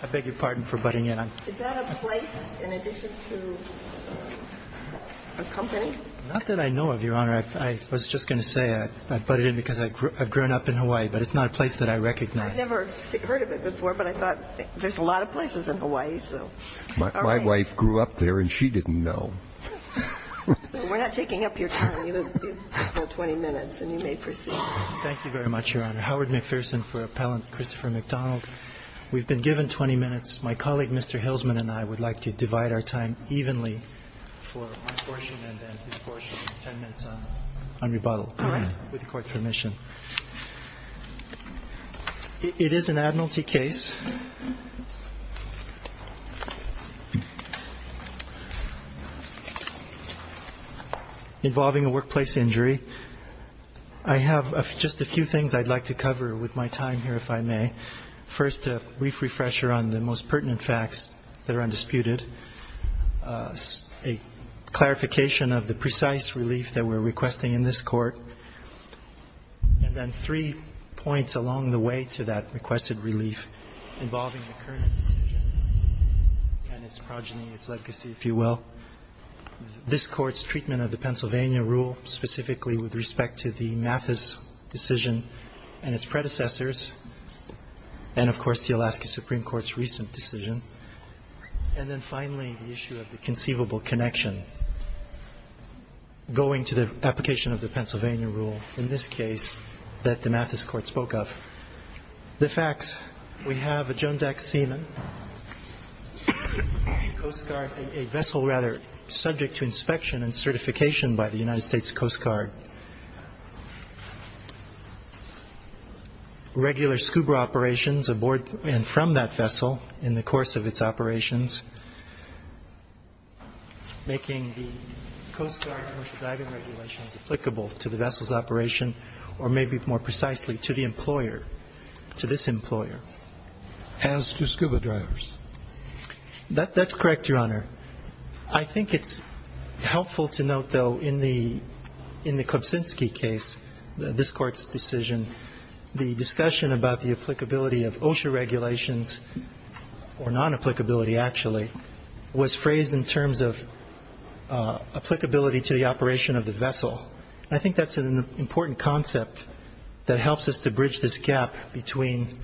I beg your pardon for butting in. Is that a place in addition to a company? Not that I know of, Your Honor. I was just going to say I butted in because I've grown up in Hawaii, but it's not a place that I recognize. I've never heard of it before, but I thought there's a lot of places in Hawaii. My wife grew up there, and she didn't know. We're not taking up your time. You have 20 minutes, and you may proceed. Thank you very much, Your Honor. Howard McPherson for Appellant Christopher McDonald. We've been given 20 minutes. My colleague, Mr. Hilsman, and I would like to divide our time evenly for my portion and then his portion. Ten minutes on rebuttal, with court permission. It is an admiralty case involving a workplace injury. I have just a few things I'd like to cover with my time here, if I may. First, a brief refresher on the most pertinent facts that are undisputed, a clarification of the precise relief that we're requesting in this court, and then three points along the way to that requested relief involving the current decision and its progeny, its legacy, if you will. This Court's treatment of the Pennsylvania rule, specifically with respect to the Mathis decision and its predecessors, and, of course, the Alaska Supreme Court's recent decision, and then finally the issue of the conceivable connection going to the application of the Pennsylvania rule in this case that the Mathis Court spoke of. The facts. We have a Jones Act seaman, Coast Guard, a vessel rather subject to inspection and certification by the United States Coast Guard, regular scuba operations aboard and from that vessel in the course of its operations, making the Coast Guard and OSHA driving regulations applicable to the vessel's operation or maybe more precisely to the employer, to this employer. As to scuba drivers. That's correct, Your Honor. I think it's helpful to note, though, in the Kobzinski case, this Court's decision, the discussion about the applicability of OSHA regulations or non-applicability, actually, was phrased in terms of applicability to the operation of the vessel. I think that's an important concept that helps us to bridge this gap between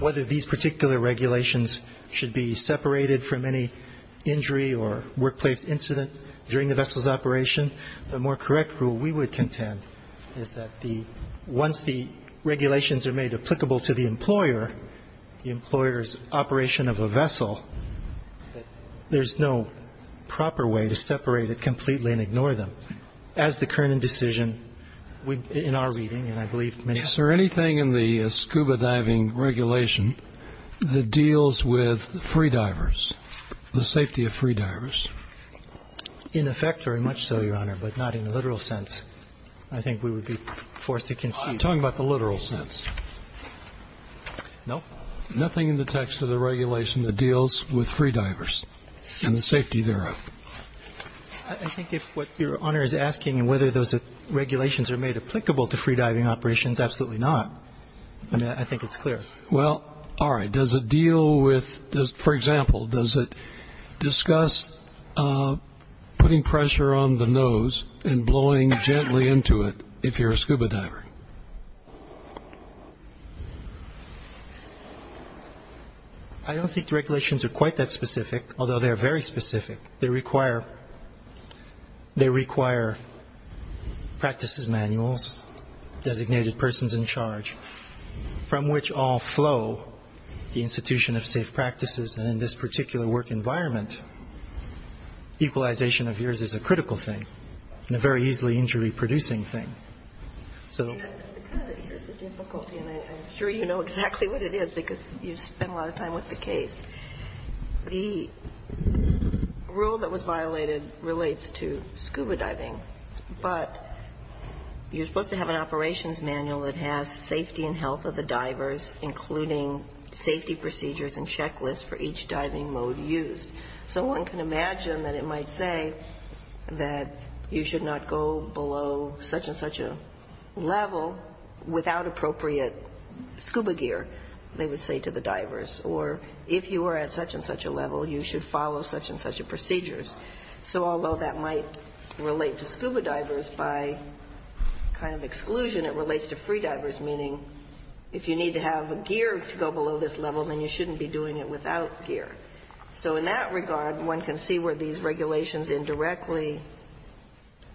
whether these particular regulations should be separated from any injury or workplace incident during the vessel's operation. The more correct rule we would contend is that once the regulations are made applicable to the employer, the employer's operation of a vessel, there's no proper way to separate it completely and ignore them. As the Kernan decision in our reading, and I believe many others. Is there anything in the scuba diving regulation that deals with free divers, the safety of free divers? In effect, very much so, Your Honor, but not in the literal sense. I think we would be forced to concede. I'm talking about the literal sense. No. Nothing in the text of the regulation that deals with free divers and the safety thereof. I think if what Your Honor is asking, whether those regulations are made applicable to free diving operations, absolutely not. I mean, I think it's clear. Well, all right. Does it deal with, for example, does it discuss putting pressure on the nose and blowing gently into it if you're a scuba diver? I don't think the regulations are quite that specific, although they are very specific. They require practices manuals, designated persons in charge, from which all flow the institution of safe practices. And in this particular work environment, equalization of yours is a critical thing and a very easily injury-producing thing. So the difficulty, and I'm sure you know exactly what it is because you've spent a lot of time with the case. The rule that was violated relates to scuba diving, but you're supposed to have an operations manual that has safety and health of the divers, including safety procedures and checklists for each diving mode used. So one can imagine that it might say that you should not go below such and such a level without appropriate scuba gear, they would say to the divers. Or if you are at such and such a level, you should follow such and such a procedure. So although that might relate to scuba divers, by kind of exclusion it relates to free divers, meaning if you need to have gear to go below this level, then you shouldn't be doing it without gear. So in that regard, one can see where these regulations indirectly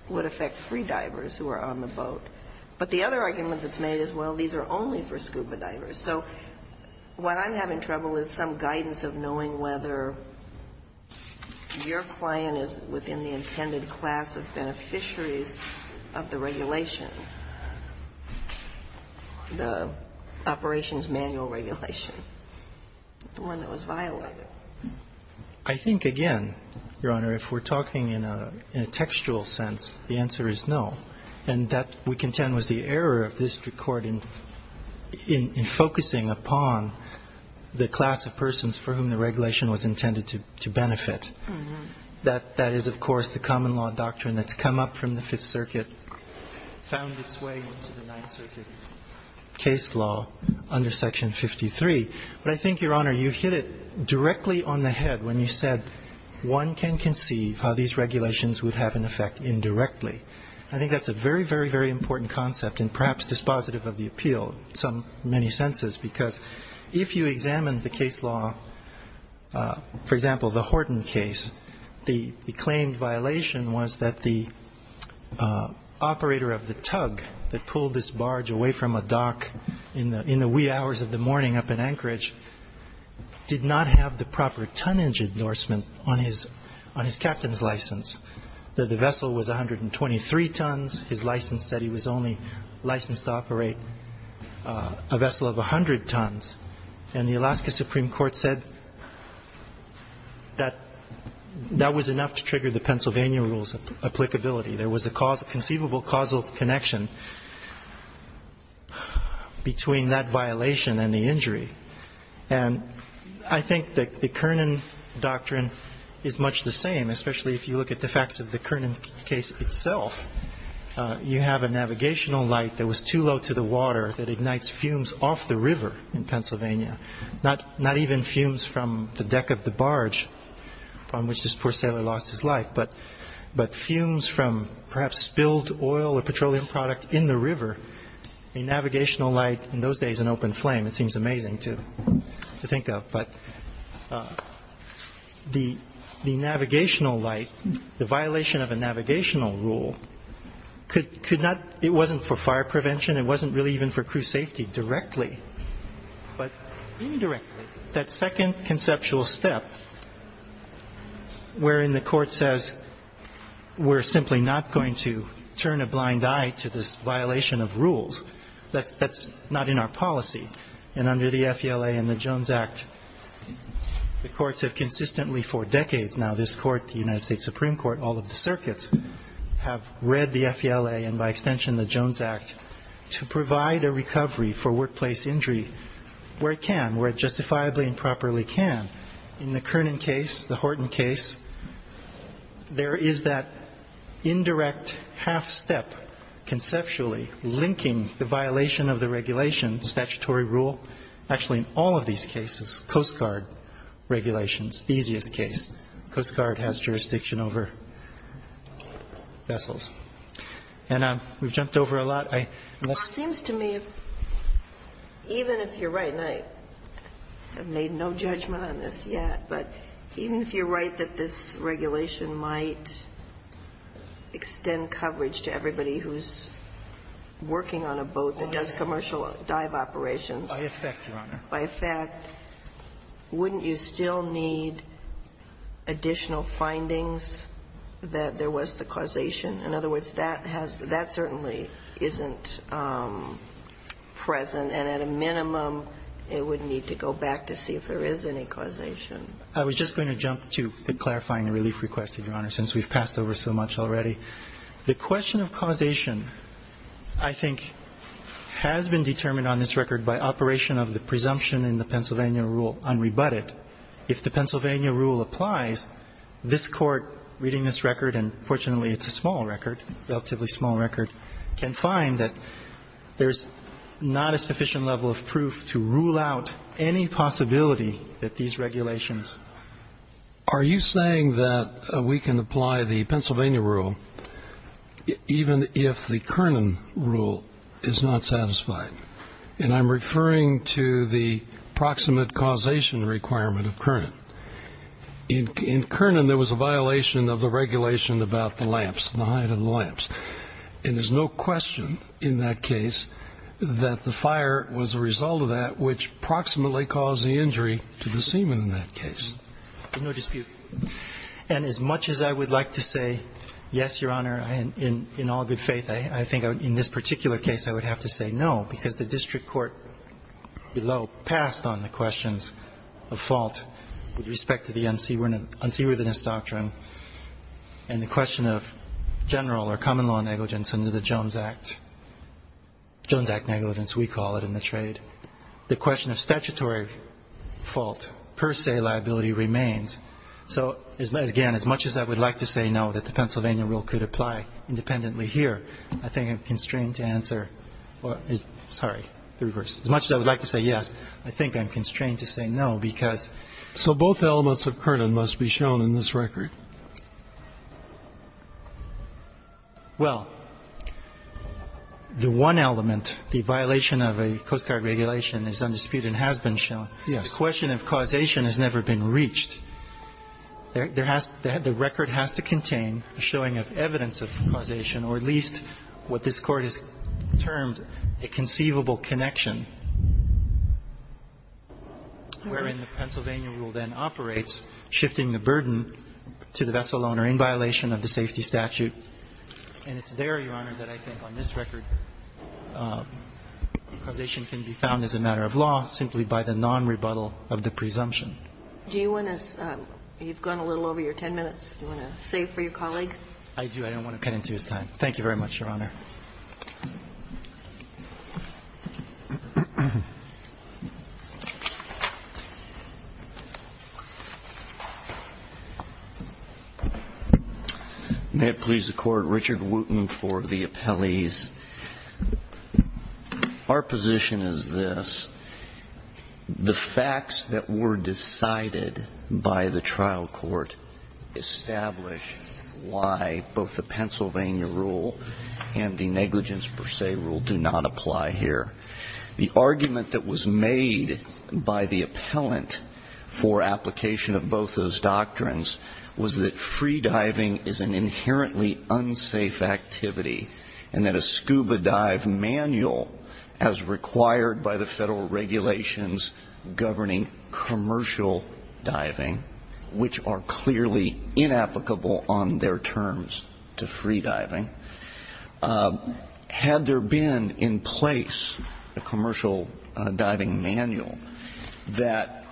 would affect free divers who are on the boat. But the other argument that's made is, well, these are only for scuba divers. So what I'm having trouble with is some guidance of knowing whether your client is within the intended class of beneficiaries of the regulation. The operations manual regulation, the one that was violated. I think, again, Your Honor, if we're talking in a textual sense, the answer is no. And that, we contend, was the error of this Court in focusing upon the class of persons for whom the regulation was intended to benefit. That is, of course, the common law doctrine that's come up from the Fifth Circuit and found its way into the Ninth Circuit case law under Section 53. But I think, Your Honor, you hit it directly on the head when you said one can conceive how these regulations would have an effect indirectly. I think that's a very, very, very important concept and perhaps dispositive of the appeal in many senses, because if you examine the case law, for example, the Horton case, the claimed violation was that the operator of the tug that pulled this barge away from a dock in the wee hours of the morning up in Anchorage did not have the proper tonnage endorsement on his captain's license, that the vessel was 123 tons. His license said he was only licensed to operate a vessel of 100 tons. And the Alaska Supreme Court said that that was enough to trigger the Pennsylvania rule's applicability. There was a conceivable causal connection between that violation and the injury. And I think that the Kernan doctrine is much the same, especially if you look at the facts of the Kernan case itself. You have a navigational light that was too low to the water that ignites fumes off the river in Pennsylvania, not even fumes from the deck of the barge on which this poor sailor lost his life, but fumes from perhaps spilled oil or petroleum product in the river. A navigational light in those days, an open flame, it seems amazing to think of. But the navigational light, the violation of a navigational rule, it wasn't for fire prevention. It wasn't really even for crew safety directly. But indirectly, that second conceptual step wherein the Court says we're simply not going to turn a blind eye to this violation of rules, that's not in our policy. And under the FELA and the Jones Act, the courts have consistently for decades now, this Court, the United States Supreme Court, all of the circuits have read the to provide a recovery for workplace injury where it can, where it justifiably and properly can. In the Kernan case, the Horton case, there is that indirect half step conceptually linking the violation of the regulations, statutory rule, actually in all of these cases, Coast Guard regulations, the easiest case. Coast Guard has jurisdiction over vessels. And we've jumped over a lot. I must say. Ginsburg. It seems to me, even if you're right, and I have made no judgment on this yet, but even if you're right that this regulation might extend coverage to everybody who's working on a boat that does commercial dive operations. By effect, Your Honor. By effect. But wouldn't you still need additional findings that there was the causation? In other words, that has, that certainly isn't present. And at a minimum, it would need to go back to see if there is any causation. I was just going to jump to clarifying the relief request, Your Honor, since we've passed over so much already. The question of causation, I think, has been determined on this record by operation of the presumption in the Pennsylvania rule unrebutted. If the Pennsylvania rule applies, this Court, reading this record, and fortunately it's a small record, relatively small record, can find that there's not a sufficient level of proof to rule out any possibility that these regulations. Are you saying that we can apply the Pennsylvania rule even if the Kernan rule is not satisfied? And I'm referring to the proximate causation requirement of Kernan. In Kernan, there was a violation of the regulation about the lamps, the height of the lamps. And there's no question in that case that the fire was a result of that which proximately caused the injury to the seaman in that case. There's no dispute. And as much as I would like to say yes, Your Honor, in all good faith, I think in this particular case I would have to say no because the district court below passed on the questions of fault with respect to the unseaworthiness doctrine and the question of general or common law negligence under the Jones Act, Jones Act negligence we call it in the trade. The question of statutory fault per se liability remains. So, again, as much as I would like to say no that the Pennsylvania rule could apply independently here, I think I'm constrained to answer or sorry, the reverse. As much as I would like to say yes, I think I'm constrained to say no because. So both elements of Kernan must be shown in this record. Well, the one element, the violation of a Coast Guard regulation is under dispute and has been shown. Yes. The question of causation has never been reached. The record has to contain a showing of evidence of causation or at least what this Court has termed a conceivable connection wherein the Pennsylvania rule then operates shifting the burden to the vessel owner in violation of the safety statute. And it's there, Your Honor, that I think on this record causation can be found as a matter of law simply by the nonrebuttal of the presumption. Do you want to, you've gone a little over your ten minutes. Do you want to save for your colleague? I do. I don't want to cut into his time. Thank you very much, Your Honor. May it please the Court. Richard Wooten for the appellees. Our position is this. The facts that were decided by the trial court establish why both the Pennsylvania rule and the negligence per se rule do not apply here. The argument that was made by the appellant for application of both those doctrines was that free diving is an inherently unsafe activity and that a scuba dive manual as required by the Federal regulations governing commercial diving, which are clearly inapplicable on their terms to free diving, had there been in place a commercial diving manual that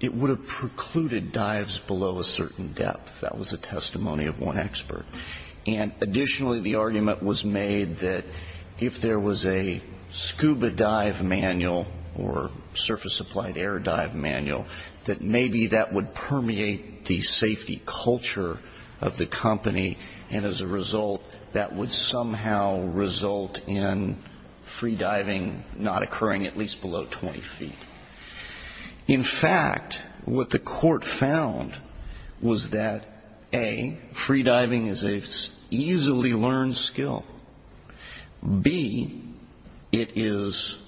it would have precluded dives below a certain depth. That was a testimony of one expert. And additionally, the argument was made that if there was a scuba dive manual or surface-applied air dive manual, that maybe that would permeate the safety culture of the company and as a result that would somehow result in free diving not occurring at least below 20 feet. In fact, what the court found was that, A, free diving is an easily learned skill. B, it is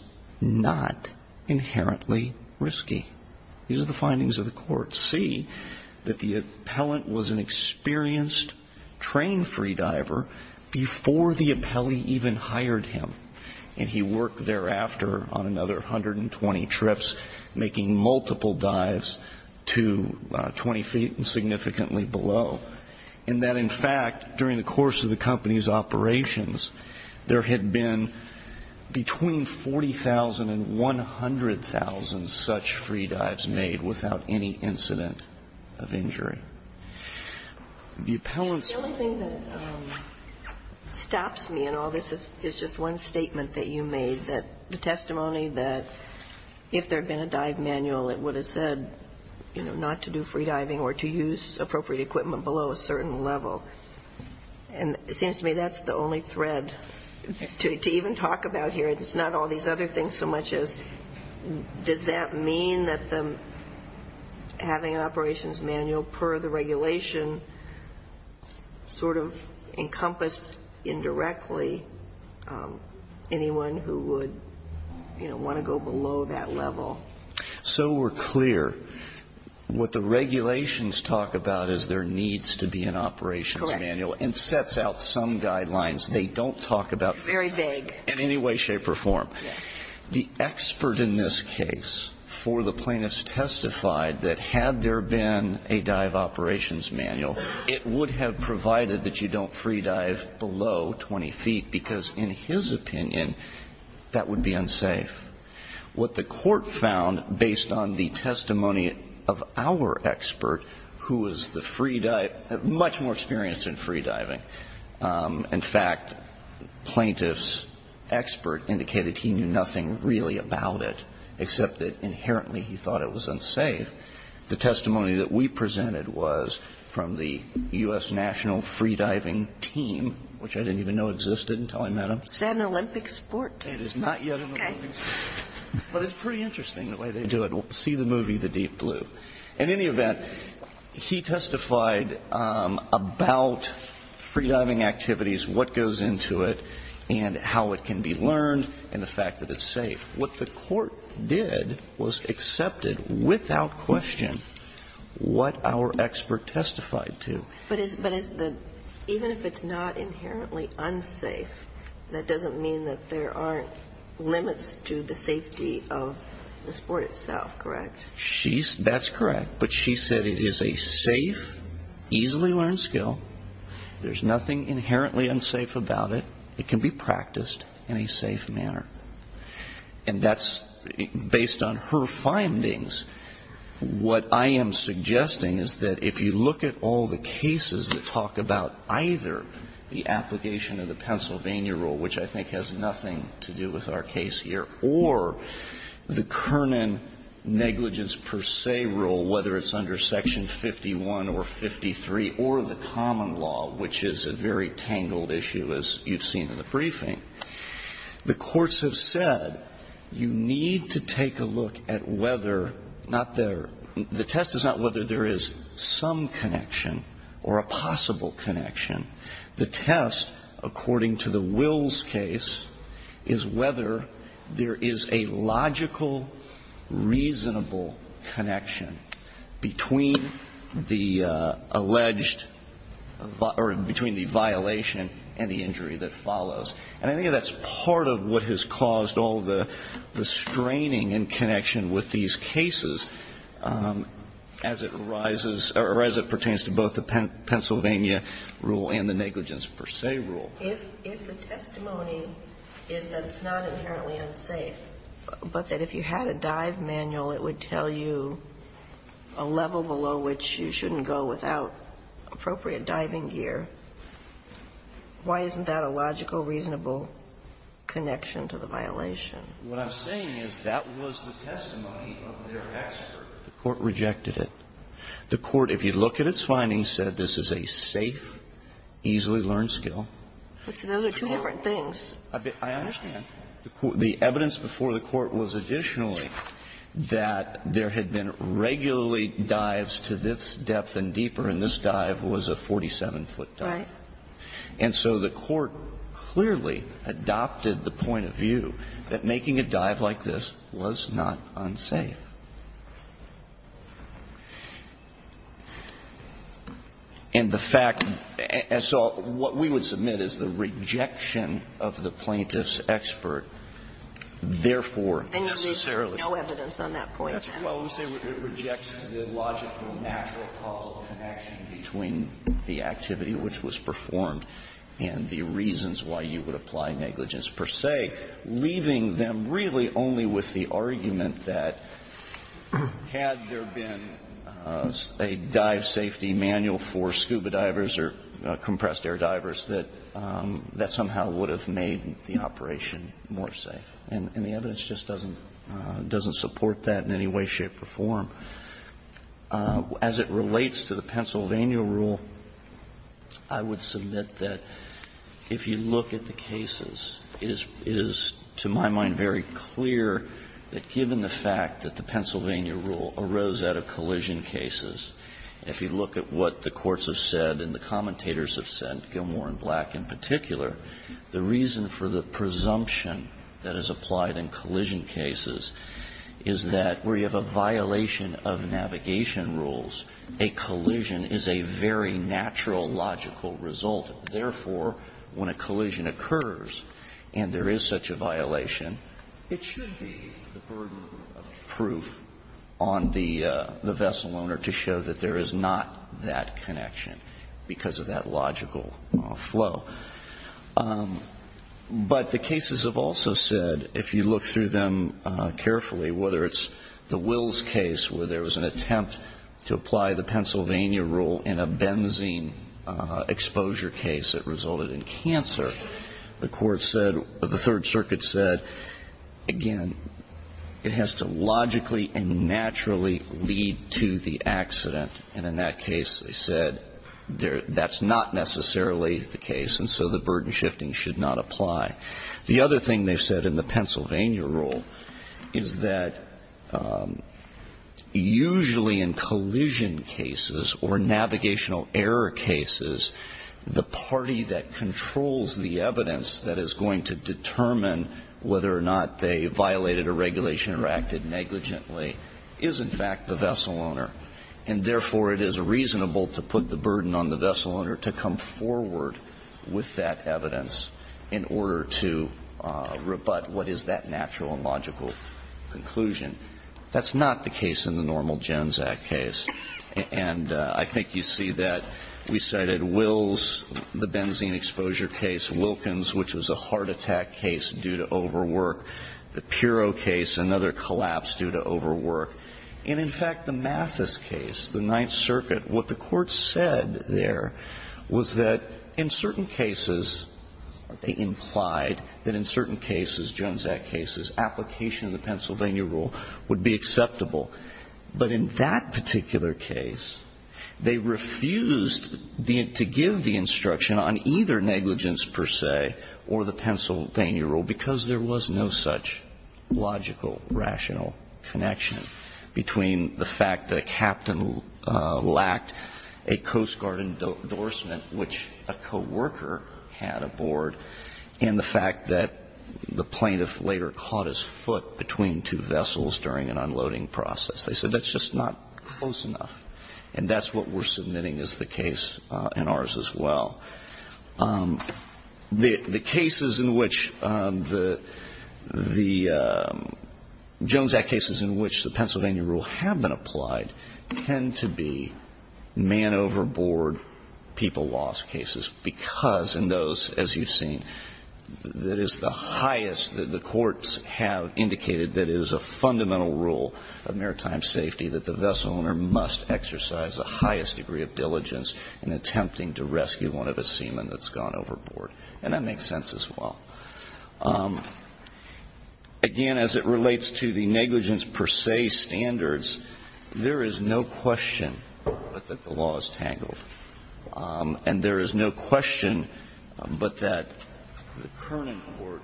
not inherently risky. These are the findings of the court. C, that the appellant was an experienced trained free diver before the appellee even hired him and he worked thereafter on another 120 trips making multiple dives to 20 feet and significantly below, and that in fact, during the course of the company's operations, there had been between 40,000 and 100,000 such free dives made without any incident of injury. The appellant's... The only thing that stops me in all this is just one statement that you made, the testimony that if there had been a dive manual, it would have said not to do free diving or to use appropriate equipment below a certain level. And it seems to me that's the only thread to even talk about here. It's not all these other things so much as does that mean that having an operations manual per the regulation sort of encompassed indirectly anyone who would, you know, want to go below that level? So we're clear, what the regulations talk about is there needs to be an operations manual and sets out some guidelines they don't talk about... Very vague. ...in any way, shape or form. The expert in this case for the plaintiffs testified that had there been a dive operations manual, it would have provided that you don't free dive below 20 feet because in his opinion, that would be unsafe. What the court found based on the testimony of our expert, who is the free diver, much more experienced in free diving. In fact, plaintiff's expert indicated he knew nothing really about it except that inherently he thought it was unsafe. The testimony that we presented was from the U.S. National Free Diving Team, which I didn't even know existed until I met him. Is that an Olympic sport? It is not yet an Olympic sport. But it's pretty interesting the way they do it. You'll see the movie The Deep Blue. In any event, he testified about free diving activities, what goes into it, and how it can be learned, and the fact that it's safe. What the court did was accepted without question what our expert testified to. But even if it's not inherently unsafe, that doesn't mean that there aren't limits to the That's correct. But she said it is a safe, easily learned skill. There's nothing inherently unsafe about it. It can be practiced in a safe manner. And that's based on her findings. What I am suggesting is that if you look at all the cases that talk about either the application of the Pennsylvania rule, which I think has nothing to do with our case here, or the Kernan negligence per se rule, whether it's under Section 51 or 53, or the common law, which is a very tangled issue, as you've seen in the briefing, the courts have said you need to take a look at whether not there the test is not whether there is some connection or a possible connection. The test, according to the Wills case, is whether there is a logical, reasonable connection between the alleged or between the violation and the injury that follows. And I think that's part of what has caused all the straining in connection with these cases as it arises or as it pertains to both the Pennsylvania rule and the Kernan negligence per se rule. If the testimony is that it's not inherently unsafe, but that if you had a dive manual, it would tell you a level below which you shouldn't go without appropriate diving gear, why isn't that a logical, reasonable connection to the violation? What I'm saying is that was the testimony of their expert. The Court rejected it. The Court, if you look at its findings, said this is a safe, easily learned skill. It's another two different things. I understand. The evidence before the Court was additionally that there had been regularly dives to this depth and deeper, and this dive was a 47-foot dive. Right. And so the Court clearly adopted the point of view that making a dive like this was not unsafe. And the fact that so what we would submit is the rejection of the plaintiff's expert, therefore, necessarily. Then you need to have no evidence on that point, then. Well, we say it rejects the logical, natural causal connection between the activity which was performed and the reasons why you would apply negligence per se, leaving them really only with the argument that had there been a dive safety manual for scuba divers or compressed air divers, that that somehow would have made the operation more safe. And the evidence just doesn't support that in any way, shape or form. As it relates to the Pennsylvania rule, I would submit that if you look at the cases, it is to my mind very clear that given the fact that the Pennsylvania rule arose out of collision cases, if you look at what the courts have said and the commentators have said, Gilmour and Black in particular, the reason for the presumption that is applied in collision cases is that where you have a violation of navigation rules, a collision is a very natural, logical result. Therefore, when a collision occurs and there is such a violation, it should be the burden of proof on the vessel owner to show that there is not that connection because of that logical flow. But the cases have also said, if you look through them carefully, whether it's the attempt to apply the Pennsylvania rule in a benzene exposure case that resulted in cancer, the court said, the Third Circuit said, again, it has to logically and naturally lead to the accident. And in that case, they said that's not necessarily the case, and so the burden shifting should not apply. The other thing they've said in the Pennsylvania rule is that usually in collision cases or navigational error cases, the party that controls the evidence that is going to determine whether or not they violated a regulation or acted negligently is, in fact, the vessel owner. And therefore, it is reasonable to put the burden on the vessel owner to come forward with that evidence in order to rebut what is that natural and logical conclusion. That's not the case in the normal Jones Act case. And I think you see that. We cited Wills, the benzene exposure case. Wilkins, which was a heart attack case due to overwork. The Pirro case, another collapse due to overwork. And in fact, the Mathis case, the Ninth Circuit, what the Court said there was that in certain cases they implied that in certain cases, Jones Act cases, application of the Pennsylvania rule would be acceptable. But in that particular case, they refused to give the instruction on either negligence per se or the Pennsylvania rule because there was no such logical, rational connection between the fact that a captain lacked a Coast Guard endorsement, which a co-worker had aboard, and the fact that the plaintiff later caught his foot between two vessels during an unloading process. They said that's just not close enough. And that's what we're submitting as the case and ours as well. The cases in which the Jones Act cases in which the Pennsylvania rule was not acceptable and the Pennsylvania rule have been applied tend to be man overboard, people lost cases because in those, as you've seen, that is the highest that the courts have indicated that it is a fundamental rule of maritime safety that the vessel owner must exercise the highest degree of diligence in attempting to rescue one of its seamen that's gone overboard. And that makes sense as well. Again, as it relates to the negligence per se standards, there is no question that the law is tangled. And there is no question but that the Kernan Court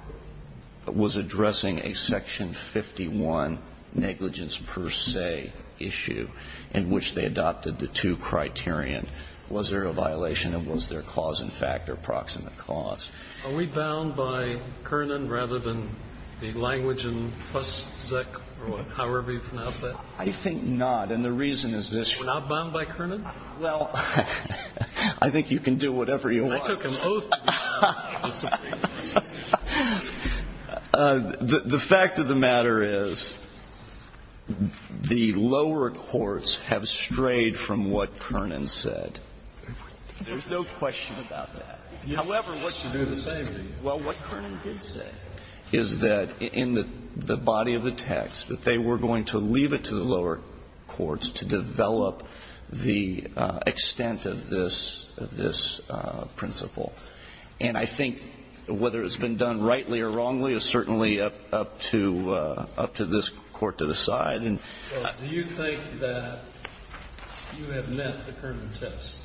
was addressing a Section 51 negligence per se issue in which they adopted the two criterion, was there a violation and was there cause and fact or proximate cause. Are we bound by Kernan rather than the language in plus Zeck or however you pronounce that? I think not. And the reason is this. We're not bound by Kernan? Well, I think you can do whatever you want. I took an oath. The fact of the matter is the lower courts have strayed from what Kernan said. There's no question about that. However, what you do the same thing. Well, what Kernan did say is that in the body of the text that they were going to leave it to the lower courts to develop the extent of this principle. And I think whether it's been done rightly or wrongly is certainly up to this Court to decide. Well, do you think that you have met the Kernan test?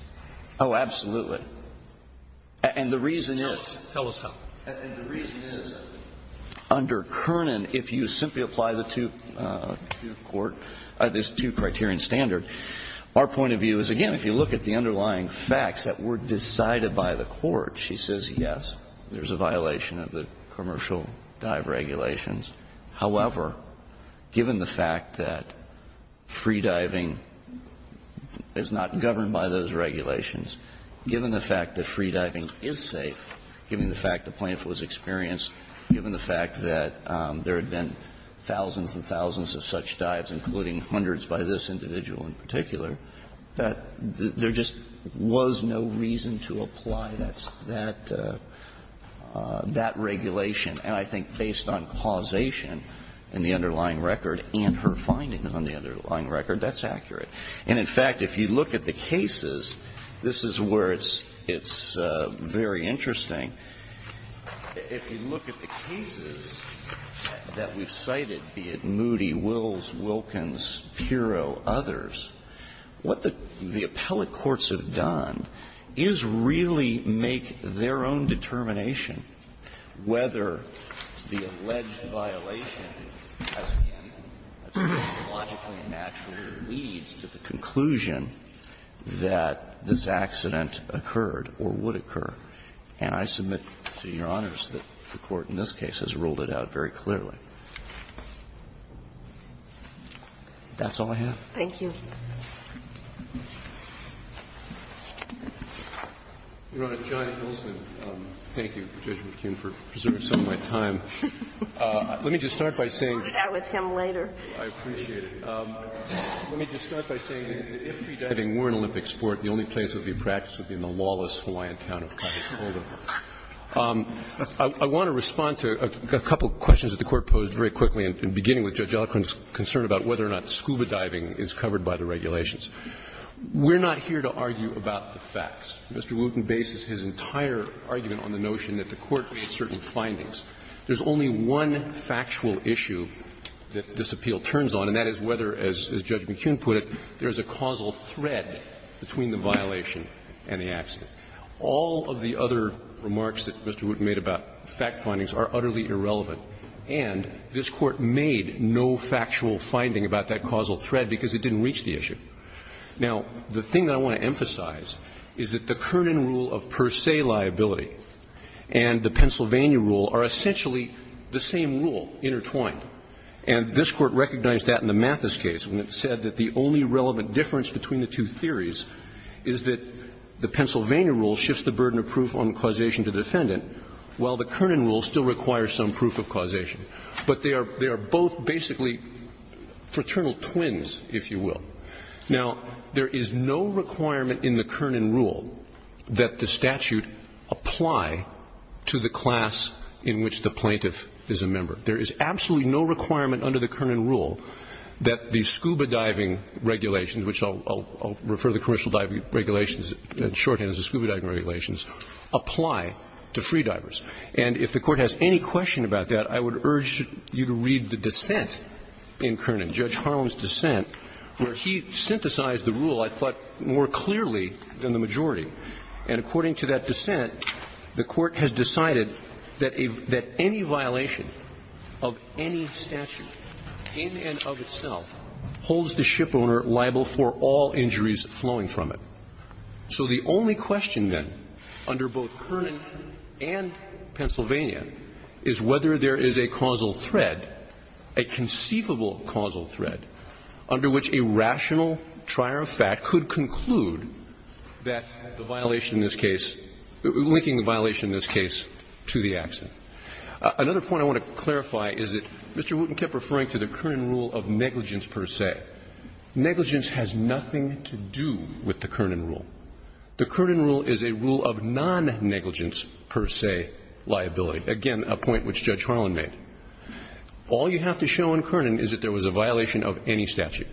Oh, absolutely. And the reason is. Tell us how. And the reason is under Kernan, if you simply apply the two-court, there's two-criterion standard. Our point of view is, again, if you look at the underlying facts that were decided by the court, she says, yes, there's a violation of the commercial dive regulations. However, given the fact that freediving is not governed by those regulations, given the fact that freediving is safe, given the fact the plaintiff was experienced, given the fact that there had been thousands and thousands of such dives, including hundreds by this individual in particular, that there just was no reason to apply that regulation. And I think based on causation in the underlying record and her finding on the underlying record, that's accurate. And, in fact, if you look at the cases, this is where it's very interesting. If you look at the cases that we've cited, be it Moody, Wills, Wilkins, Pirro, others, what the appellate courts have done is really make their own determination whether the alleged violation, as, again, logically and naturally leads to the conclusion that this accident occurred or would occur. And I submit to Your Honors that the Court in this case has ruled it out very clearly. That's all I have. Thank you. Roberts. Thank you, Judge McKeon, for preserving some of my time. Let me just start by saying that if freediving were an Olympic sport, the only place it would be practiced would be in the lawless Hawaiian town of Kakaupapa. I want to respond to a couple of questions that the Court posed very quickly, and beginning with Judge Ellicott's concern about whether or not scuba diving is covered by the regulations. We're not here to argue about the facts. Mr. Wooten bases his entire argument on the notion that the Court made certain findings. There's only one factual issue that this appeal turns on, and that is whether, as Judge McKeon put it, there's a causal thread between the violation and the accident. All of the other remarks that Mr. Wooten made about fact findings are utterly irrelevant, and this Court made no factual finding about that causal thread because it didn't reach the issue. Now, the thing that I want to emphasize is that the Kernan rule of per se liability and the Pennsylvania rule are essentially the same rule intertwined, and this Court recognized that in the Mathis case when it said that the only relevant difference between the two theories is that the Pennsylvania rule shifts the burden of proof on causation to defendant, while the Kernan rule still requires some proof of causation. But they are both basically fraternal twins, if you will. Now, there is no requirement in the Kernan rule that the statute apply to the class in which the plaintiff is a member. There is absolutely no requirement under the Kernan rule that the scuba diving regulations, which I'll refer to the commercial diving regulations in shorthand as the scuba diving regulations, apply to freedivers. And if the Court has any question about that, I would urge you to read the dissent in Kernan, Judge Harlan's dissent, where he synthesized the rule, I thought, more clearly than the majority. And according to that dissent, the Court has decided that any violation of any statute in and of itself holds the shipowner liable for all injuries flowing from it. So the only question, then, under both Kernan and Pennsylvania is whether there is a causal thread, a conceivable causal thread, under which a rational trier of fact could conclude that the violation in this case, linking the violation in this case to the accident. Another point I want to clarify is that Mr. Wooten kept referring to the Kernan rule of negligence per se. Negligence has nothing to do with the Kernan rule. The Kernan rule is a rule of non-negligence per se liability. Again, a point which Judge Harlan made. All you have to show in Kernan is that there was a violation of any statute.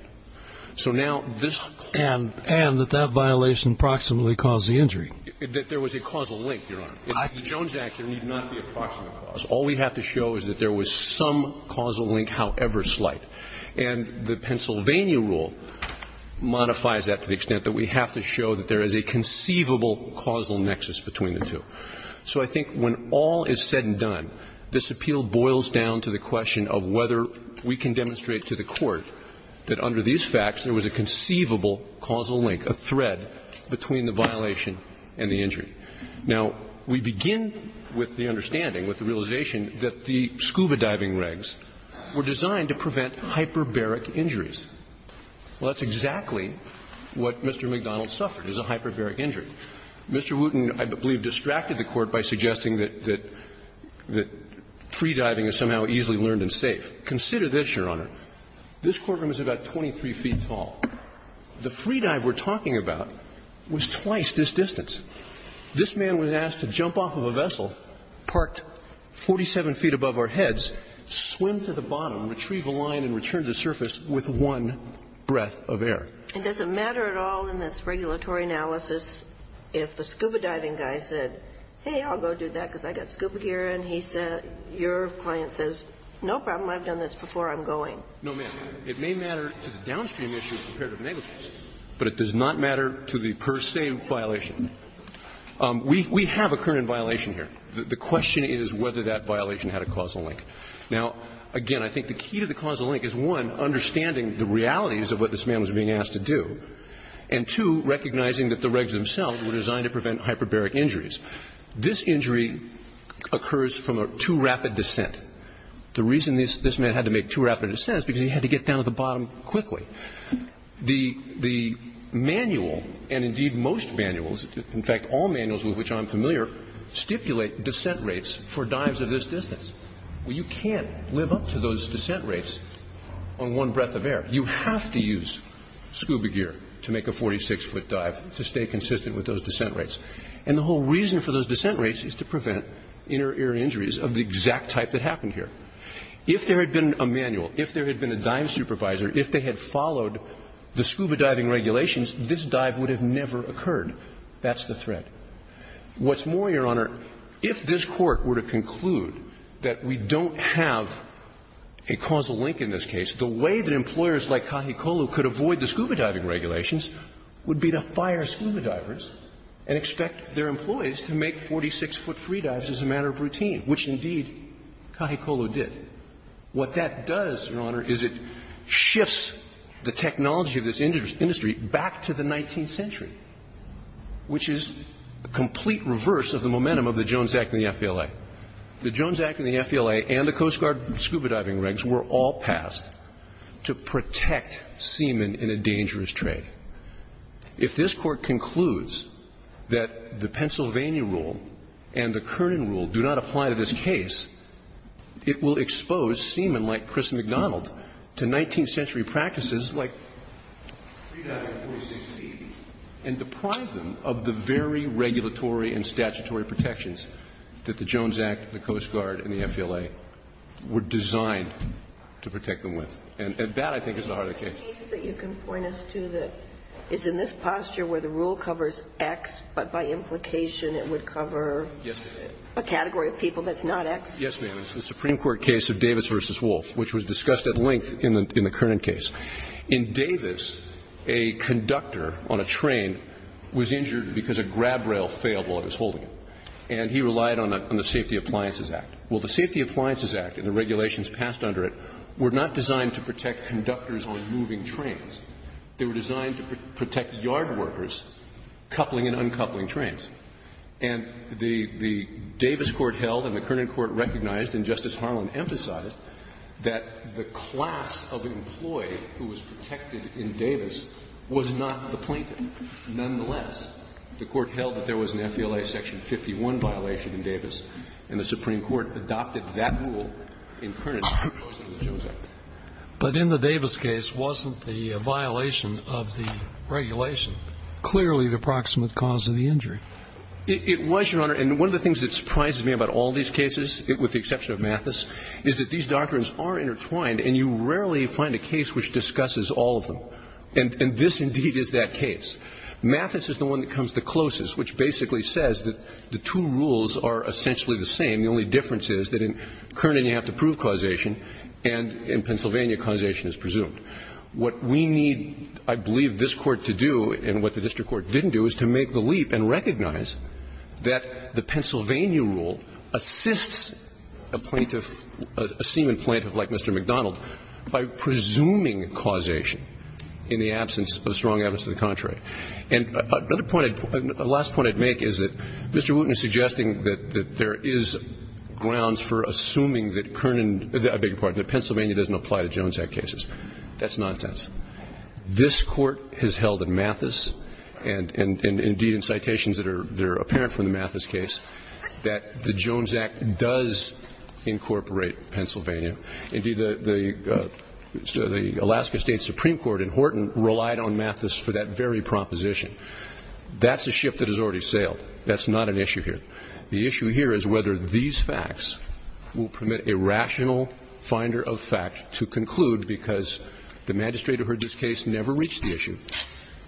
So now, this clause of the Pennsylvania Penitentiary Act. And that that violation proximately caused the injury. That there was a causal link, Your Honor. In the Jones Act, there need not be a proximate cause. All we have to show is that there was some causal link, however slight. And the Pennsylvania rule modifies that to the extent that we have to show that there is a conceivable causal nexus between the two. So I think when all is said and done, this appeal boils down to the question of whether we can demonstrate to the Court that under these facts, there was a conceivable causal link, a thread, between the violation and the injury. Now, we begin with the understanding, with the realization that the scuba diving regs were designed to prevent hyperbaric injuries. Well, that's exactly what Mr. McDonald suffered, is a hyperbaric injury. Mr. Wooten, I believe, distracted the Court by suggesting that free diving is somehow easily learned and safe. Consider this, Your Honor. This courtroom is about 23 feet tall. The free dive we're talking about was twice this distance. This man was asked to jump off of a vessel parked 47 feet above our heads, swim to the bottom, retrieve a line and return to the surface with one breath of air. It doesn't matter at all in this regulatory analysis if the scuba diving guy said, hey, I'll go do that because I've got scuba gear, and he said, your client says, no problem, I've done this before, I'm going. No, ma'am. It may matter to the downstream issue compared to the negligence, but it does not matter to the per se violation. We have a current violation here. The question is whether that violation had a causal link. Now, again, I think the key to the causal link is, one, understanding the realities of what this man was being asked to do, and, two, recognizing that the regs themselves were designed to prevent hyperbaric injuries. This injury occurs from a too rapid descent. The reason this man had to make too rapid a descent is because he had to get down to the bottom quickly. The manual, and indeed most manuals, in fact all manuals with which I'm familiar, stipulate descent rates for dives of this distance. Well, you can't live up to those descent rates on one breath of air. You have to use scuba gear to make a 46-foot dive to stay consistent with those descent rates. And the whole reason for those descent rates is to prevent inner ear injuries of the exact type that happened here. If there had been a manual, if there had been a dive supervisor, if they had followed the scuba diving regulations, this dive would have never occurred. That's the threat. What's more, Your Honor, if this Court were to conclude that we don't have a causal link in this case, the way that employers like Cajicolo could avoid the scuba diving regulations would be to fire scuba divers and expect their employees to make 46-foot free dives as a matter of routine, which indeed Cajicolo did. What that does, Your Honor, is it shifts the technology of this industry back to the 19th century, which is a complete reverse of the momentum of the Jones Act and the FLA. The Jones Act and the FLA and the Coast Guard scuba diving regs were all passed to protect seamen in a dangerous trade. If this Court concludes that the Pennsylvania rule and the Kernan rule do not apply to this case, it will expose seamen like Chris McDonald to 19th century practices like free diving at 46 feet and deprive them of the very regulatory and statutory protections that the Jones Act, the Coast Guard, and the FLA were designed to protect them with. And that, I think, is the heart of the case. The case that you can point us to that is in this posture where the rule covers X, but by implication it would cover a category of people that's not X? Yes, ma'am. It's the Supreme Court case of Davis v. Wolf, which was discussed at length in the Kernan case. In Davis, a conductor on a train was injured because a grab rail failed while he was holding it. And he relied on the Safety Appliances Act. Well, the Safety Appliances Act and the regulations passed under it were not designed to protect conductors on moving trains. They were designed to protect yard workers coupling and uncoupling trains. And the Davis court held and the Kernan court recognized and Justice Harlan emphasized that the class of employee who was protected in Davis was not the plaintiff, nonetheless. The court held that there was an FLA section 51 violation in Davis, and the Supreme Court adopted that rule in Kernan as opposed to the Jones Act. But in the Davis case, wasn't the violation of the regulation clearly the proximate cause of the injury? It was, Your Honor. And one of the things that surprises me about all these cases, with the exception of Mathis, is that these doctrines are intertwined and you rarely find a case which discusses all of them. And this indeed is that case. Mathis is the one that comes the closest, which basically says that the two rules are essentially the same. The only difference is that in Kernan you have to prove causation and in Pennsylvania causation is presumed. What we need, I believe, this Court to do and what the district court didn't do is to make the leap and recognize that the Pennsylvania rule assists a plaintiff, a seaman plaintiff like Mr. McDonald, by presuming causation in the absence of the strong evidence to the contrary. And another point, the last point I'd make is that Mr. Wooten is suggesting that there is grounds for assuming that Kernan, I beg your pardon, that Pennsylvania doesn't apply to Jones Act cases. That's nonsense. This Court has held in Mathis and indeed in citations that are apparent from the Mathis case that the Jones Act does incorporate Pennsylvania. Indeed, the Alaska State Supreme Court in Horton relied on Mathis for that very proposition. That's a ship that has already sailed. That's not an issue here. The issue here is whether these facts will permit a rational finder of fact to conclude because the magistrate who heard this case never reached the issue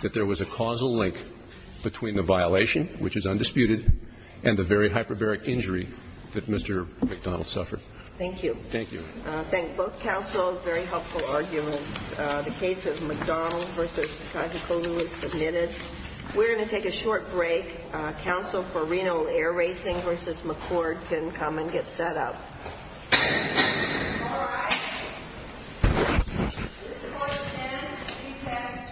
that there was a causal link between the violation, which is undisputed, and the very hyperbaric injury that Mr. McDonald suffered. Thank you. Thank you. Thank both counsels. Very helpful arguments. The case of McDonald v. Kazakolu is submitted. We're going to take a short break. Counsel for Reno Air Racing v. McCord can come and get set up. All rise. This Court stands to be satisfied. Thank you. Thank you.